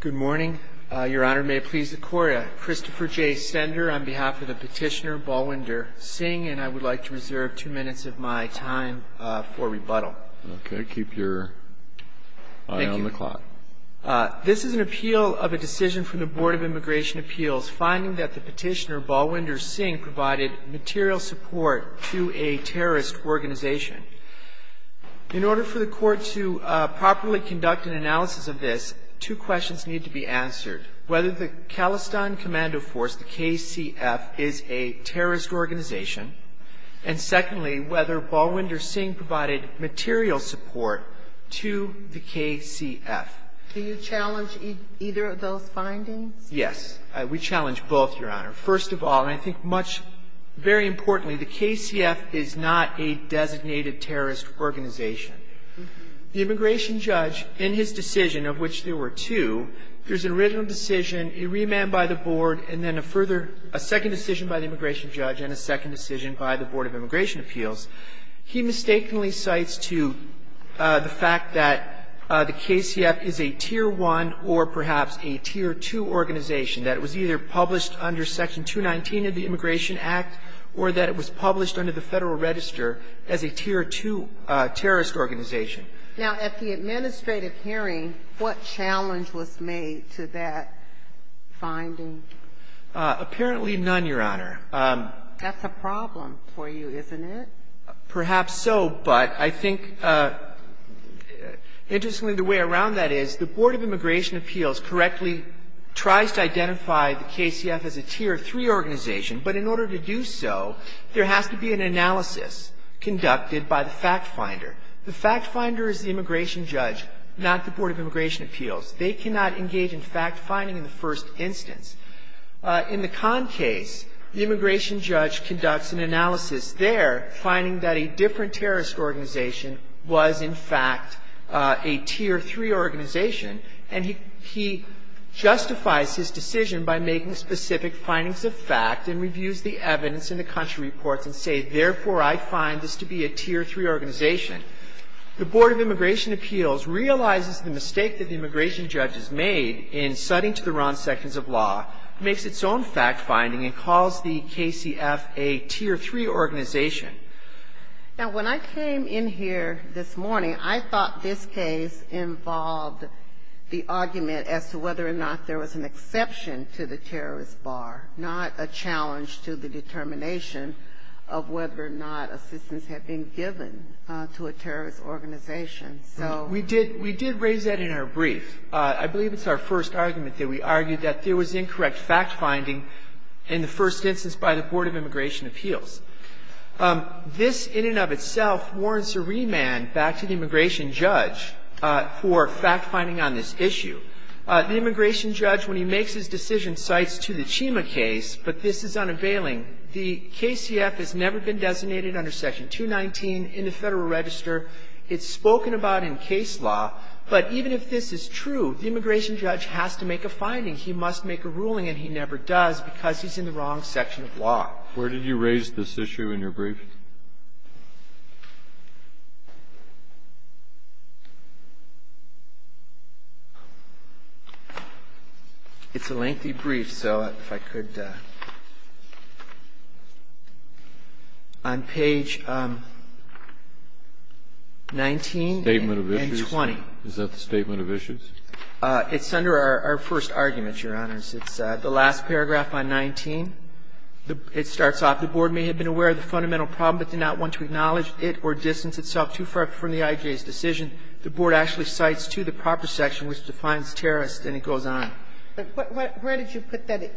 Good morning. Your Honor, may it please the Court, Christopher J. Stender on behalf of the petitioner, Balwinder Singh, and I would like to reserve two minutes of my time for rebuttal. Okay, keep your eye on the clock. This is an appeal of a decision from the Board of Immigration Appeals, finding that the petitioner, Balwinder Singh, provided material support to a terrorist organization. In order for the Court to properly conduct an analysis of this, two questions need to be answered. Whether the Khalistan Commando Force, the KCF, is a terrorist organization, and secondly, whether Balwinder Singh provided material support to the KCF. Do you challenge either of those findings? Yes. We challenge both, Your Honor. First of all, and I think much, very importantly, the KCF is not a designated terrorist organization. The immigration judge, in his decision, of which there were two, there's an original decision, a remand by the Board, and then a further – a second decision by the immigration judge and a second decision by the Board of Immigration Appeals. He mistakenly cites to the fact that the KCF is a Tier 1 or perhaps a Tier 2 organization, that it was either published under Section 219 of the Immigration Act or that it was published under the Federal Register as a Tier 2 terrorist organization. Now, at the administrative hearing, what challenge was made to that finding? Apparently none, Your Honor. That's a problem for you, isn't it? Perhaps so, but I think, interestingly, the way around that is the Board of Immigration Appeals correctly tries to identify the KCF as a Tier 3 organization. But in order to do so, there has to be an analysis conducted by the factfinder. The factfinder is the immigration judge, not the Board of Immigration Appeals. They cannot engage in factfinding in the first instance. In the Kahn case, the immigration judge conducts an analysis there, finding that a different terrorist organization was, in fact, a Tier 3 organization. And he justifies his decision by making specific findings of fact and reviews the evidence in the country reports and says, therefore, I find this to be a Tier 3 organization. The Board of Immigration Appeals realizes the mistake that the immigration judge has made in citing to the wrong sections of law makes its own factfinding and calls the KCF a Tier 3 organization. Now, when I came in here this morning, I thought this case involved the argument as to whether or not there was an exception to the terrorist bar, not a challenge to the determination of whether or not assistance had been given to a terrorist organization. So we did raise that in our brief. I believe it's our first argument that we argued that there was incorrect factfinding in the first instance by the Board of Immigration Appeals. This, in and of itself, warrants a remand back to the immigration judge for factfinding on this issue. The immigration judge, when he makes his decision, cites to the Chima case, but this is unavailing. The KCF has never been designated under Section 219 in the Federal Register. It's spoken about in case law. But even if this is true, the immigration judge has to make a finding. He must make a ruling, and he never does because he's in the wrong section of law. Breyer. It's a lengthy brief, so if I could, on page 19 and 20. Statement of issues? Is that the statement of issues? It's under our first argument, Your Honors. It's the last paragraph on 19. It starts off, The Board may have been aware of the fundamental problem but did not want to acknowledge it or distance itself too far from the IJA's decision. The Board actually cites to the proper section which defines terrorist, and it goes on. But where did you put that?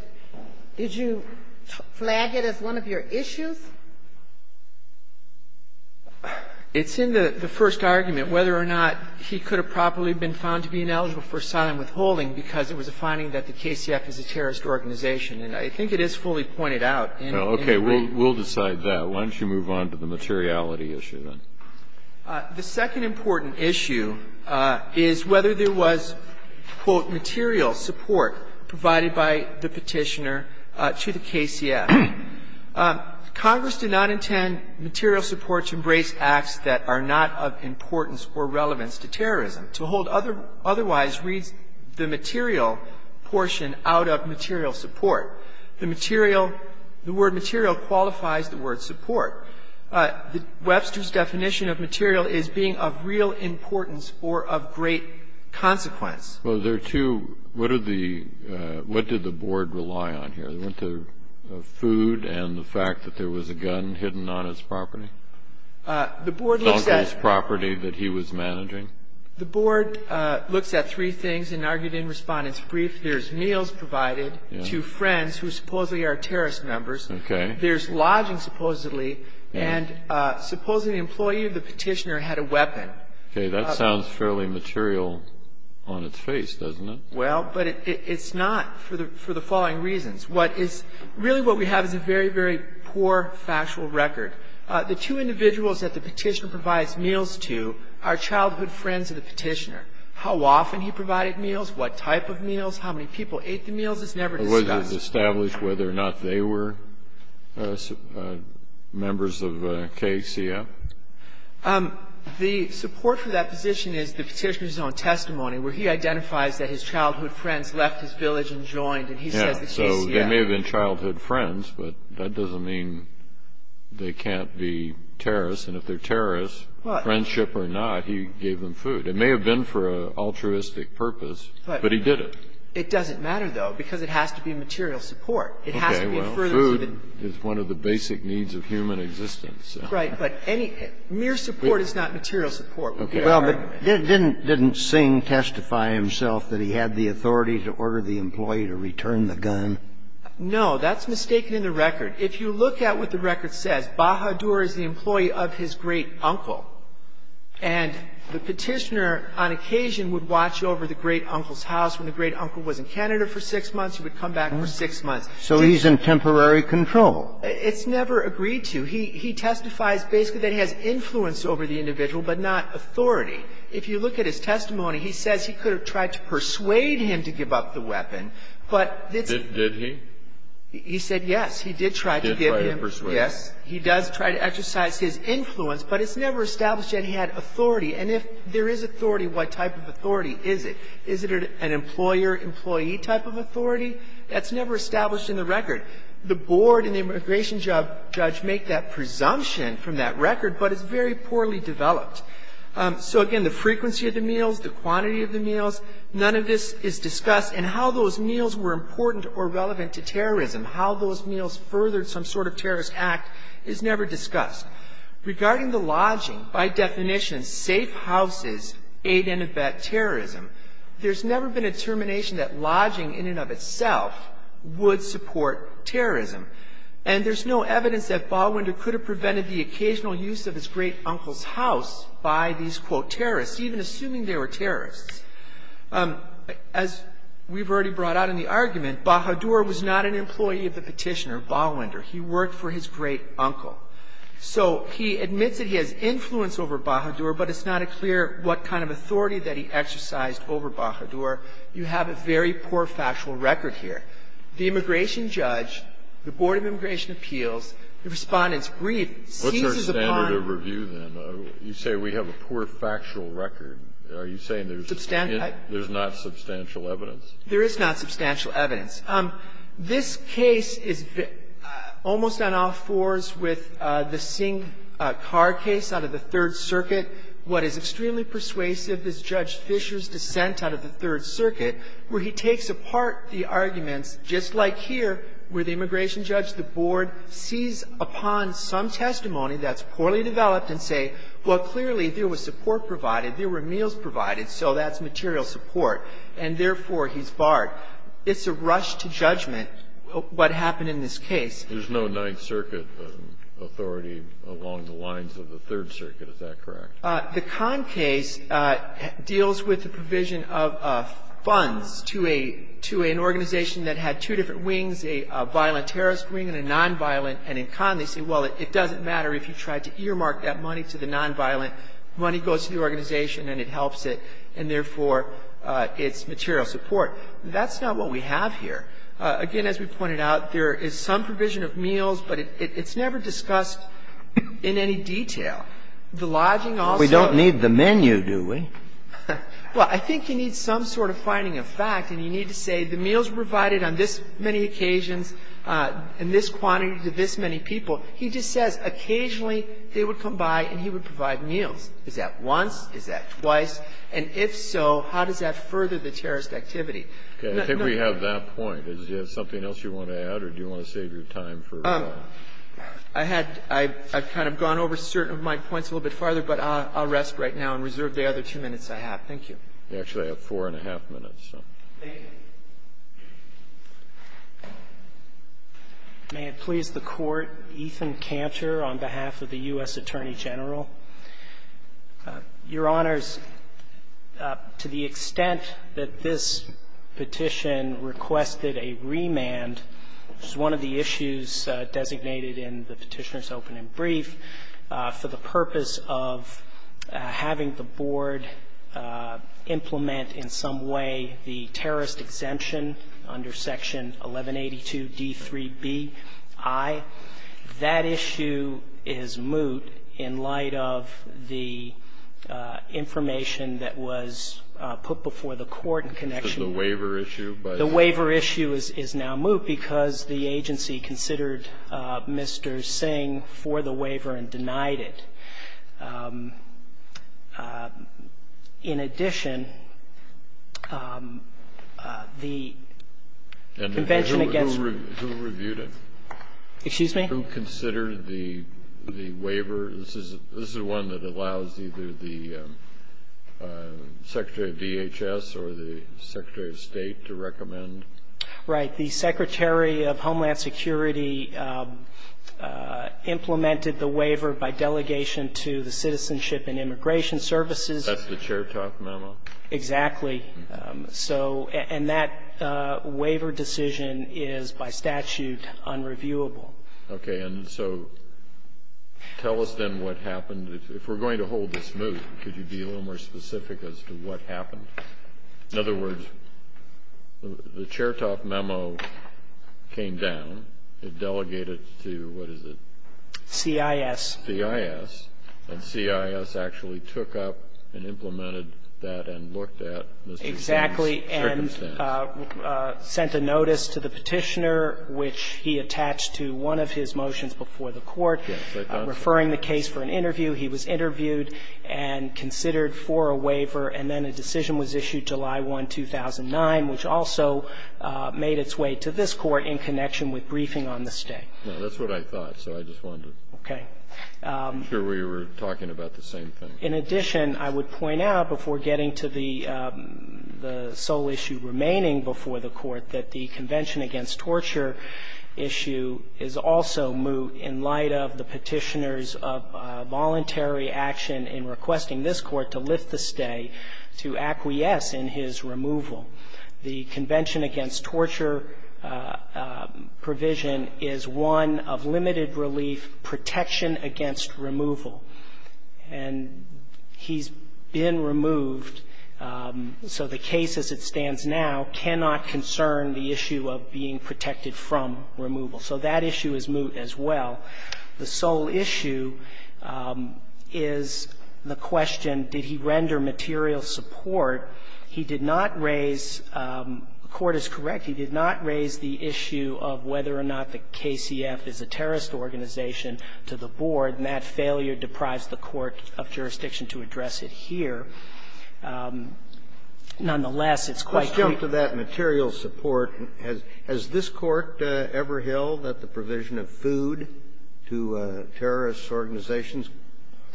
Did you flag it as one of your issues? It's in the first argument, whether or not he could have properly been found to be ineligible for asylum withholding because it was a finding that the KCF is a terrorist organization. And I think it is fully pointed out. Okay. We'll decide that. Why don't you move on to the materiality issue then? The second important issue is whether there was, quote, material support provided by the Petitioner to the KCF. Congress did not intend material support to embrace acts that are not of importance or relevance to terrorism. To hold otherwise reads the material portion out of material support. The material, the word material qualifies the word support. Webster's definition of material is being of real importance or of great consequence. Well, there are two. What are the, what did the Board rely on here? They went to food and the fact that there was a gun hidden on his property? The Board looks at On his property that he was managing? The Board looks at three things and argued in Respondent's Brief. There's meals provided to friends who supposedly are terrorist members. Okay. There's lodging supposedly. And supposedly the employee of the Petitioner had a weapon. Okay. That sounds fairly material on its face, doesn't it? Well, but it's not for the following reasons. What is, really what we have is a very, very poor factual record. The two individuals that the Petitioner provides meals to are childhood friends of the Petitioner. How often he provided meals, what type of meals, how many people ate the meals is never discussed. Was it established whether or not they were members of KCF? The support for that position is the Petitioner's own testimony, where he identifies that his childhood friends left his village and joined, and he says the KCF. They may have been childhood friends, but that doesn't mean they can't be terrorists. And if they're terrorists, friendship or not, he gave them food. It may have been for an altruistic purpose, but he did it. It doesn't matter, though, because it has to be material support. Okay. Well, food is one of the basic needs of human existence. Right. But mere support is not material support. Okay. Well, but didn't Singh testify himself that he had the authority to order the employee to return the gun? No. That's mistaken in the record. If you look at what the record says, Bahadur is the employee of his great-uncle, and the Petitioner on occasion would watch over the great-uncle's house. When the great-uncle was in Canada for six months, he would come back for six months. So he's in temporary control. It's never agreed to. He testifies basically that he has influence over the individual, but not authority. If you look at his testimony, he says he could have tried to persuade him to give up the weapon. Did he? He said yes. He did try to give him. He did try to persuade him. Yes. He does try to exercise his influence, but it's never established that he had authority. And if there is authority, what type of authority is it? Is it an employer-employee type of authority? That's never established in the record. The board and the immigration judge make that presumption from that record, but it's very poorly developed. So, again, the frequency of the meals, the quantity of the meals, none of this is discussed. And how those meals were important or relevant to terrorism, how those meals furthered some sort of terrorist act is never discussed. Regarding the lodging, by definition, safe houses aid and abet terrorism, there's never been a determination that lodging in and of itself would support terrorism. And there's no evidence that Balwinder could have prevented the occasional use of his great uncle's house by these, quote, terrorists, even assuming they were terrorists. As we've already brought out in the argument, Bahadur was not an employee of the petitioner, Balwinder. He worked for his great uncle. So he admits that he has influence over Bahadur, but it's not clear what kind of authority that he exercised over Bahadur. You have a very poor factual record here. The immigration judge, the Board of Immigration Appeals, the Respondent's brief seizes upon the ---- Kennedy, what's our standard of review, then? You say we have a poor factual record. Are you saying there's not substantial evidence? There is not substantial evidence. This case is almost on all fours with the Singh car case out of the Third Circuit. What is extremely persuasive is Judge Fisher's dissent out of the Third Circuit, where he takes apart the arguments, just like here, where the immigration judge, the board, sees upon some testimony that's poorly developed and say, well, clearly, there was support provided, there were meals provided, so that's material support, and therefore, he's barred. It's a rush to judgment what happened in this case. There's no Ninth Circuit authority along the lines of the Third Circuit. Is that correct? The Kahn case deals with the provision of funds to a ---- to an organization that had two different wings, a violent terrorist wing and a nonviolent. And in Kahn, they say, well, it doesn't matter if you tried to earmark that money to the nonviolent. Money goes to the organization and it helps it, and therefore, it's material support. That's not what we have here. Again, as we pointed out, there is some provision of meals, but it's never discussed in any detail. The lodging also ---- Breyer, we don't need the menu, do we? Well, I think you need some sort of finding of fact, and you need to say the meals were provided on this many occasions and this quantity to this many people. He just says occasionally they would come by and he would provide meals. Is that once? Is that twice? And if so, how does that further the terrorist activity? Okay. I think we have that point. Is there something else you want to add, or do you want to save your time for? I had ---- I've kind of gone over certain of my points a little bit farther, but I'll rest right now and reserve the other two minutes I have. Thank you. You actually have four and a half minutes, so. Thank you. May it please the Court, Ethan Cantor on behalf of the U.S. Attorney General. Your Honors, to the extent that this petition requested a remand, which is one of the issues designated in the Petitioner's Open and Brief, for the purpose of having the Board implement in some way the terrorist exemption under Section 1182d3bi, that issue is moot in light of the information that was put before the Court in connection with the waiver issue. The waiver issue is now moot because the agency considered Mr. Singh for the waiver and denied it. In addition, the Convention Against ---- Who reviewed it? Excuse me? Who considered the waiver? This is one that allows either the Secretary of DHS or the Secretary of State to recommend. Right. The Secretary of Homeland Security implemented the waiver by delegation to the Citizenship and Immigration Services. That's the Chair Talk memo? Exactly. And that waiver decision is by statute unreviewable. Okay. And so tell us then what happened. If we're going to hold this moot, could you be a little more specific as to what happened? In other words, the Chair Talk memo came down. It delegated to what is it? CIS. CIS. And CIS actually took up and implemented that and looked at Mr. Singh's circumstance. Exactly. And sent a notice to the Petitioner, which he attached to one of his motions before the Court, referring the case for an interview. He was interviewed and considered for a waiver, and then a decision was issued, July 1, 2009, which also made its way to this Court in connection with briefing on the stay. That's what I thought, so I just wondered. Okay. I'm sure we were talking about the same thing. In addition, I would point out before getting to the sole issue remaining before the Court that the Convention Against Torture issue is also moot in light of the Petitioner's voluntary action in requesting this Court to lift the stay to acquiesce in his removal. The Convention Against Torture provision is one of limited relief protection against removal, and he's been removed, so the case as it stands now cannot concern the issue of being protected from removal. So that issue is moot as well. The sole issue is the question, did he render material support? He did not raise, the Court is correct, he did not raise the issue of whether or not the KCF is a terrorist organization to the board, and that failure deprives the court of jurisdiction to address it here. Nonetheless, it's quite clear. Kennedy, let's jump to that material support. Has this Court ever held that the provision of food to terrorist organizations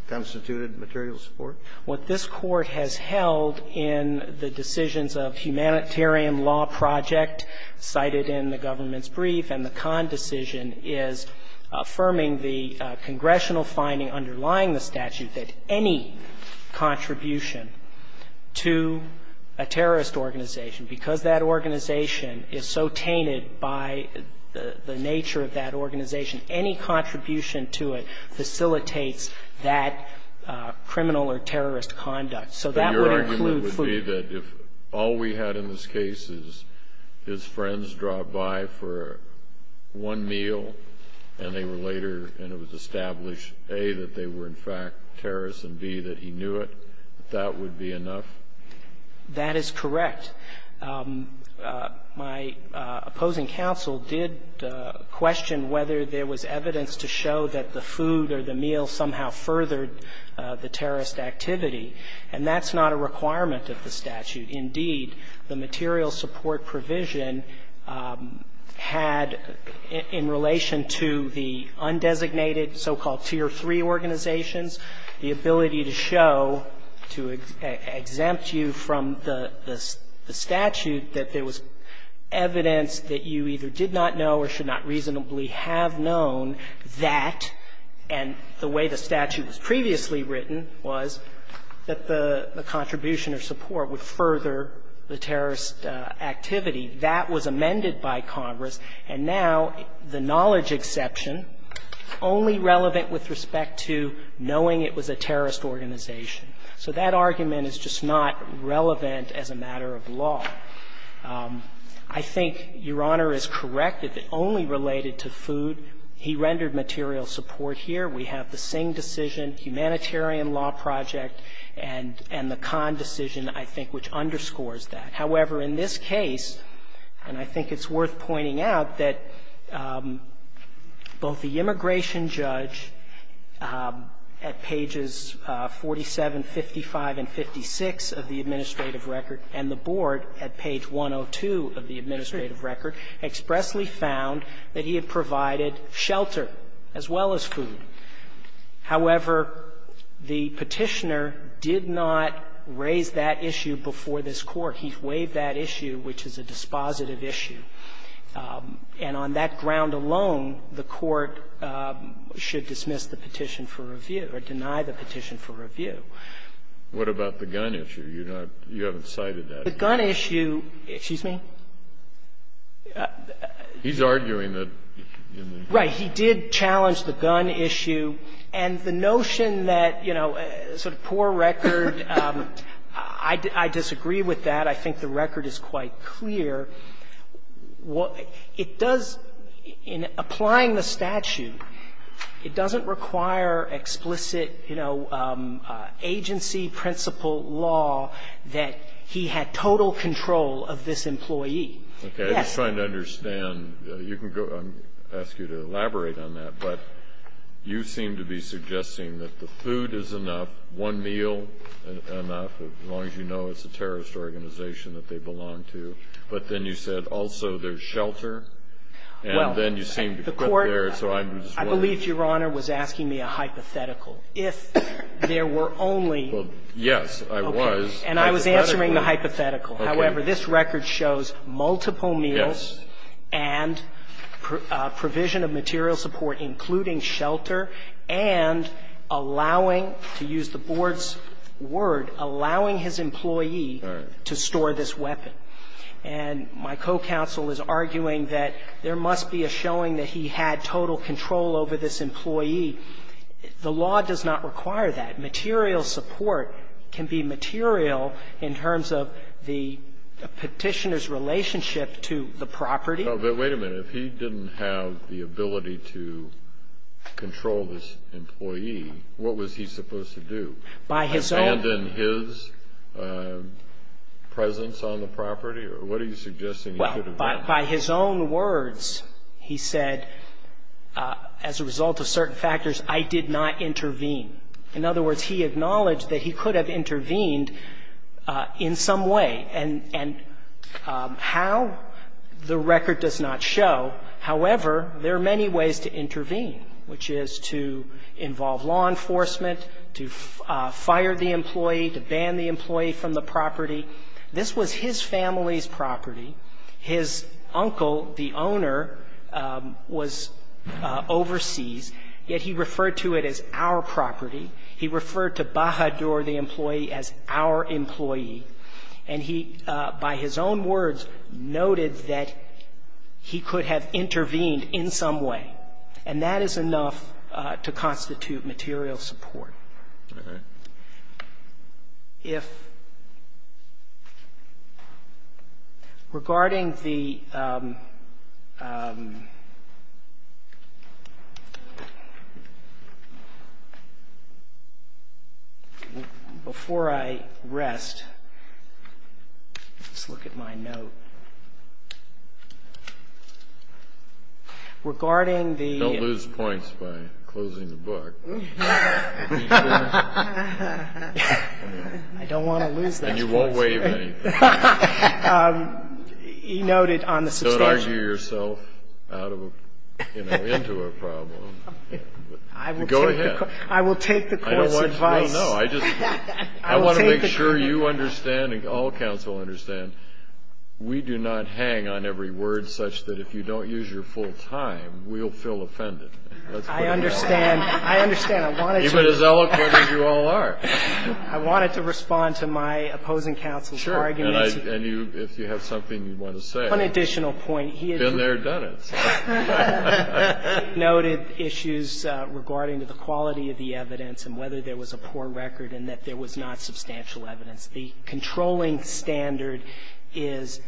constituted material support? What this Court has held in the decisions of humanitarian law project cited in the government's brief and the Kahn decision is affirming the congressional finding underlying the statute that any contribution to a terrorist organization, because that organization is so tainted by the nature of that organization, any contribution to it facilitates that criminal or terrorist conduct. So that would include food. Kennedy, your argument would be that if all we had in this case is his friends drove by for one meal, and they were later, and it was established, A, that they were in fact terrorists, and, B, that he knew it, that that would be enough? That is correct. My opposing counsel did question whether there was evidence to show that the food or the meal somehow furthered the terrorist activity. And that's not a requirement of the statute. Indeed, the material support provision had, in relation to the undesignated so-called tier 3 organizations, the ability to show, to exempt you from the status that there was evidence that you either did not know or should not reasonably have known that, and the way the statute was previously written was that the contribution or support would further the terrorist activity. That was amended by Congress. And now the knowledge exception, only relevant with respect to knowing it was a terrorist organization. So that argument is just not relevant as a matter of law. I think Your Honor is correct. If it only related to food, he rendered material support here. We have the Singh decision, humanitarian law project, and the Kahn decision, I think, which underscores that. However, in this case, and I think it's worth pointing out, that both the immigration judge at pages 47, 55, and 56 of the administrative record, and the board at page 102 of the administrative record expressly found that he had provided shelter as well as food. However, the Petitioner did not raise that issue before this Court. He waived that issue, which is a dispositive issue. And on that ground alone, the Court should dismiss the petition for review or deny the petition for review. Kennedy, what about the gun issue? You haven't cited that. The gun issue, excuse me? He's arguing that in the Right. He did challenge the gun issue. And the notion that, you know, sort of poor record, I disagree with that. I think the record is quite clear. It does, in applying the statute, it doesn't require explicit, you know, agency principle law that he had total control of this employee. Yes. Kennedy, I'm just trying to understand. You can go. I'm going to ask you to elaborate on that. But you seem to be suggesting that the food is enough, one meal enough, as long as you know it's a terrorist organization that they belong to. But then you said also there's shelter. And then you seem to put there, so I'm just wondering. I believe Your Honor was asking me a hypothetical. If there were only – Well, yes, I was. And I was answering the hypothetical. Okay. However, this record shows multiple meals and provision of material support, including shelter, and allowing, to use the Board's word, allowing his employee to store this weapon. And my co-counsel is arguing that there must be a showing that he had total control over this employee. The law does not require that. Material support can be material in terms of the Petitioner's relationship to the property. But wait a minute. If he didn't have the ability to control this employee, what was he supposed to do? Abandon his presence on the property, or what are you suggesting he could have done? Well, by his own words, he said, as a result of certain factors, I did not intervene. In other words, he acknowledged that he could have intervened in some way. And how, the record does not show. However, there are many ways to intervene, which is to involve law enforcement, to fire the employee, to ban the employee from the property. This was his family's property. His uncle, the owner, was overseas, yet he referred to it as our property. He referred to Bajador, the employee, as our employee. And he, by his own words, noted that he could have intervened in some way. And that is enough to constitute material support. All right. If regarding the before I rest, let's look at my note. Regarding the Don't lose points by closing the book. I don't want to lose those points. And you won't waive anything. He noted on the substation. Don't argue yourself out of a, you know, into a problem. Go ahead. I will take the Court's advice. No, no. I just want to make sure you understand and all counsel understand, we do not hang on every word such that if you don't use your full time, we'll feel offended. I understand. I understand. Even as eloquent as you all are. I wanted to respond to my opposing counsel's argument. Sure. And if you have something you want to say. One additional point. Been there, done it. He noted issues regarding the quality of the evidence and whether there was a poor record and that there was not substantial evidence. The controlling standard is,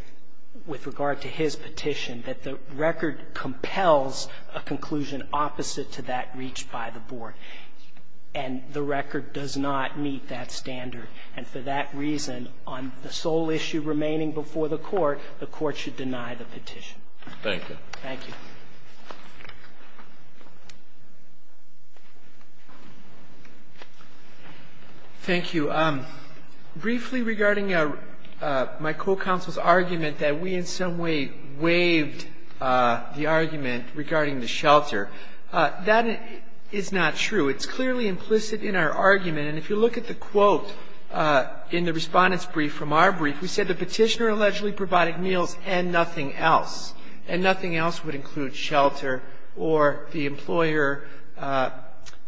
with regard to his petition, that the record compels a conclusion opposite to that reached by the board. And the record does not meet that standard. And for that reason, on the sole issue remaining before the Court, the Court should deny the petition. Thank you. Thank you. Thank you. Briefly regarding my co-counsel's argument that we in some way waived the argument regarding the shelter, that is not true. It's clearly implicit in our argument. And if you look at the quote in the Respondent's brief from our brief, we said the petitioner allegedly provided meals and nothing else. And nothing else would include shelter or the employer,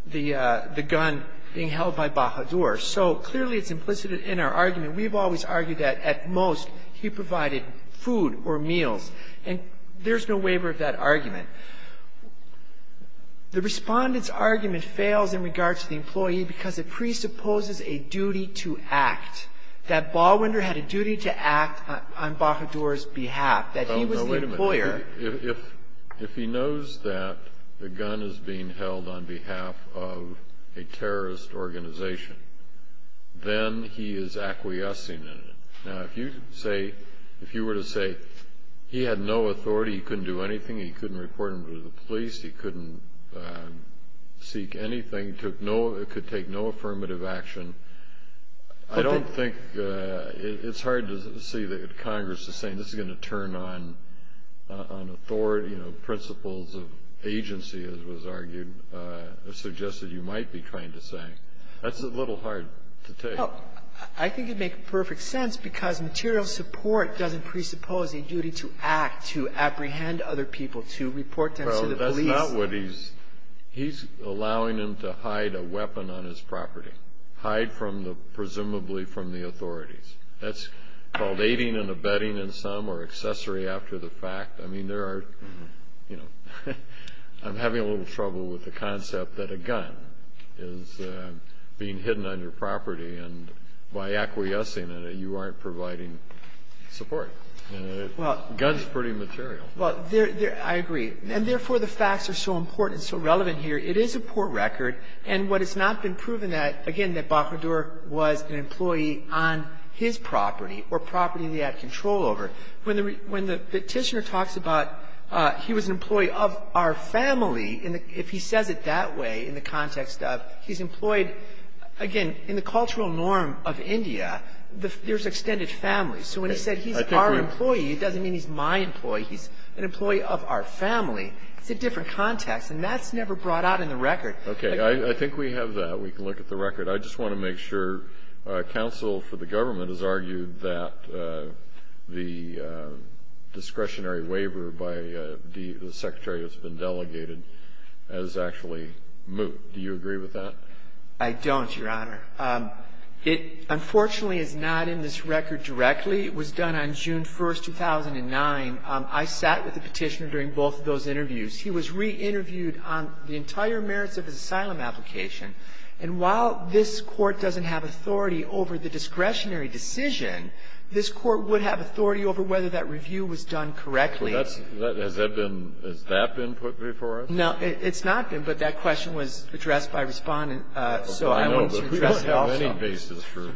the gun being held by Bajador. So clearly it's implicit in our argument. We've always argued that at most he provided food or meals. And there's no waiver of that argument. The Respondent's argument fails in regard to the employee because it presupposes a duty to act, that Ballwinder had a duty to act on Bajador's behalf, that he was the employer. Oh, no, wait a minute. If he knows that the gun is being held on behalf of a terrorist organization, then he is acquiescing in it. Now, if you say, if you were to say he had no authority, he couldn't do anything, he couldn't report him to the police, he couldn't seek anything, could take no affirmative action, I don't think it's hard to see that Congress is saying this is going to turn on authority, you know, principles of agency, as was argued, suggested you might be trying to say. That's a little hard to take. Well, I think you'd make perfect sense because material support doesn't presuppose a duty to act, to apprehend other people, to report them to the police. Well, that's not what he's – he's allowing him to hide a weapon on his property, hide from the – presumably from the authorities. That's called aiding and abetting in some or accessory after the fact. I mean, there are – you know, I'm having a little trouble with the concept that a by acquiescing in it, you aren't providing support. Well – Guns are pretty material. Well, I agree. And therefore, the facts are so important, so relevant here. It is a poor record. And what has not been proven that, again, that Bajador was an employee on his property or property that he had control over. When the Petitioner talks about he was an employee of our family, if he says it that way in the context of he's employed – again, in the cultural norm of India, there's extended families. So when he said he's our employee, it doesn't mean he's my employee. He's an employee of our family. It's a different context. And that's never brought out in the record. Okay. I think we have that. We can look at the record. I just want to make sure counsel for the government has argued that the discretionary waiver by the Secretary that's been delegated is actually moot. Do you agree with that? I don't, Your Honor. It, unfortunately, is not in this record directly. It was done on June 1, 2009. I sat with the Petitioner during both of those interviews. He was re-interviewed on the entire merits of his asylum application. And while this Court doesn't have authority over the discretionary decision, this Court would have authority over whether that review was done correctly. Has that been put before us? No, it's not been. But that question was addressed by Respondent. So I wanted to address it also. I know, but we don't have any basis for it.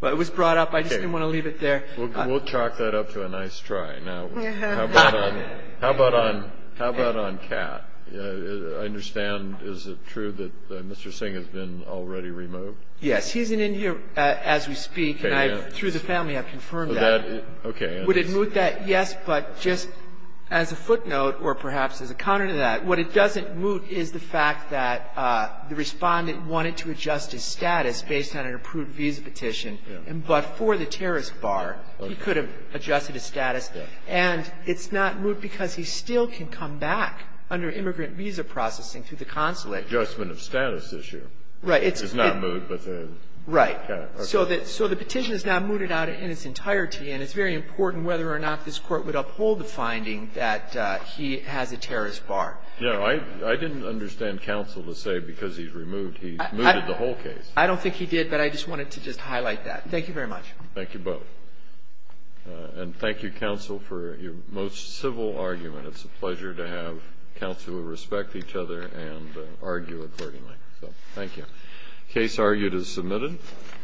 Well, it was brought up. I just didn't want to leave it there. We'll chalk that up to a nice try. Now, how about on Kat? I understand, is it true that Mr. Singh has been already removed? Yes. He isn't in here as we speak. And through the family, I've confirmed that. Okay. Would it moot that? Well, yes, but just as a footnote, or perhaps as a counter to that, what it doesn't moot is the fact that the Respondent wanted to adjust his status based on an approved visa petition, but for the terrorist bar, he could have adjusted his status. And it's not moot because he still can come back under immigrant visa processing through the consulate. Adjustment of status issue. Right. It's not moot, but then. Right. Okay. So the petition is now mooted out in its entirety. And it's very important whether or not this Court would uphold the finding that he has a terrorist bar. Yeah. I didn't understand counsel to say because he's removed, he mooted the whole case. I don't think he did, but I just wanted to just highlight that. Thank you very much. Thank you both. And thank you, counsel, for your most civil argument. It's a pleasure to have counsel who respect each other and argue accordingly. So thank you. Case argued as submitted.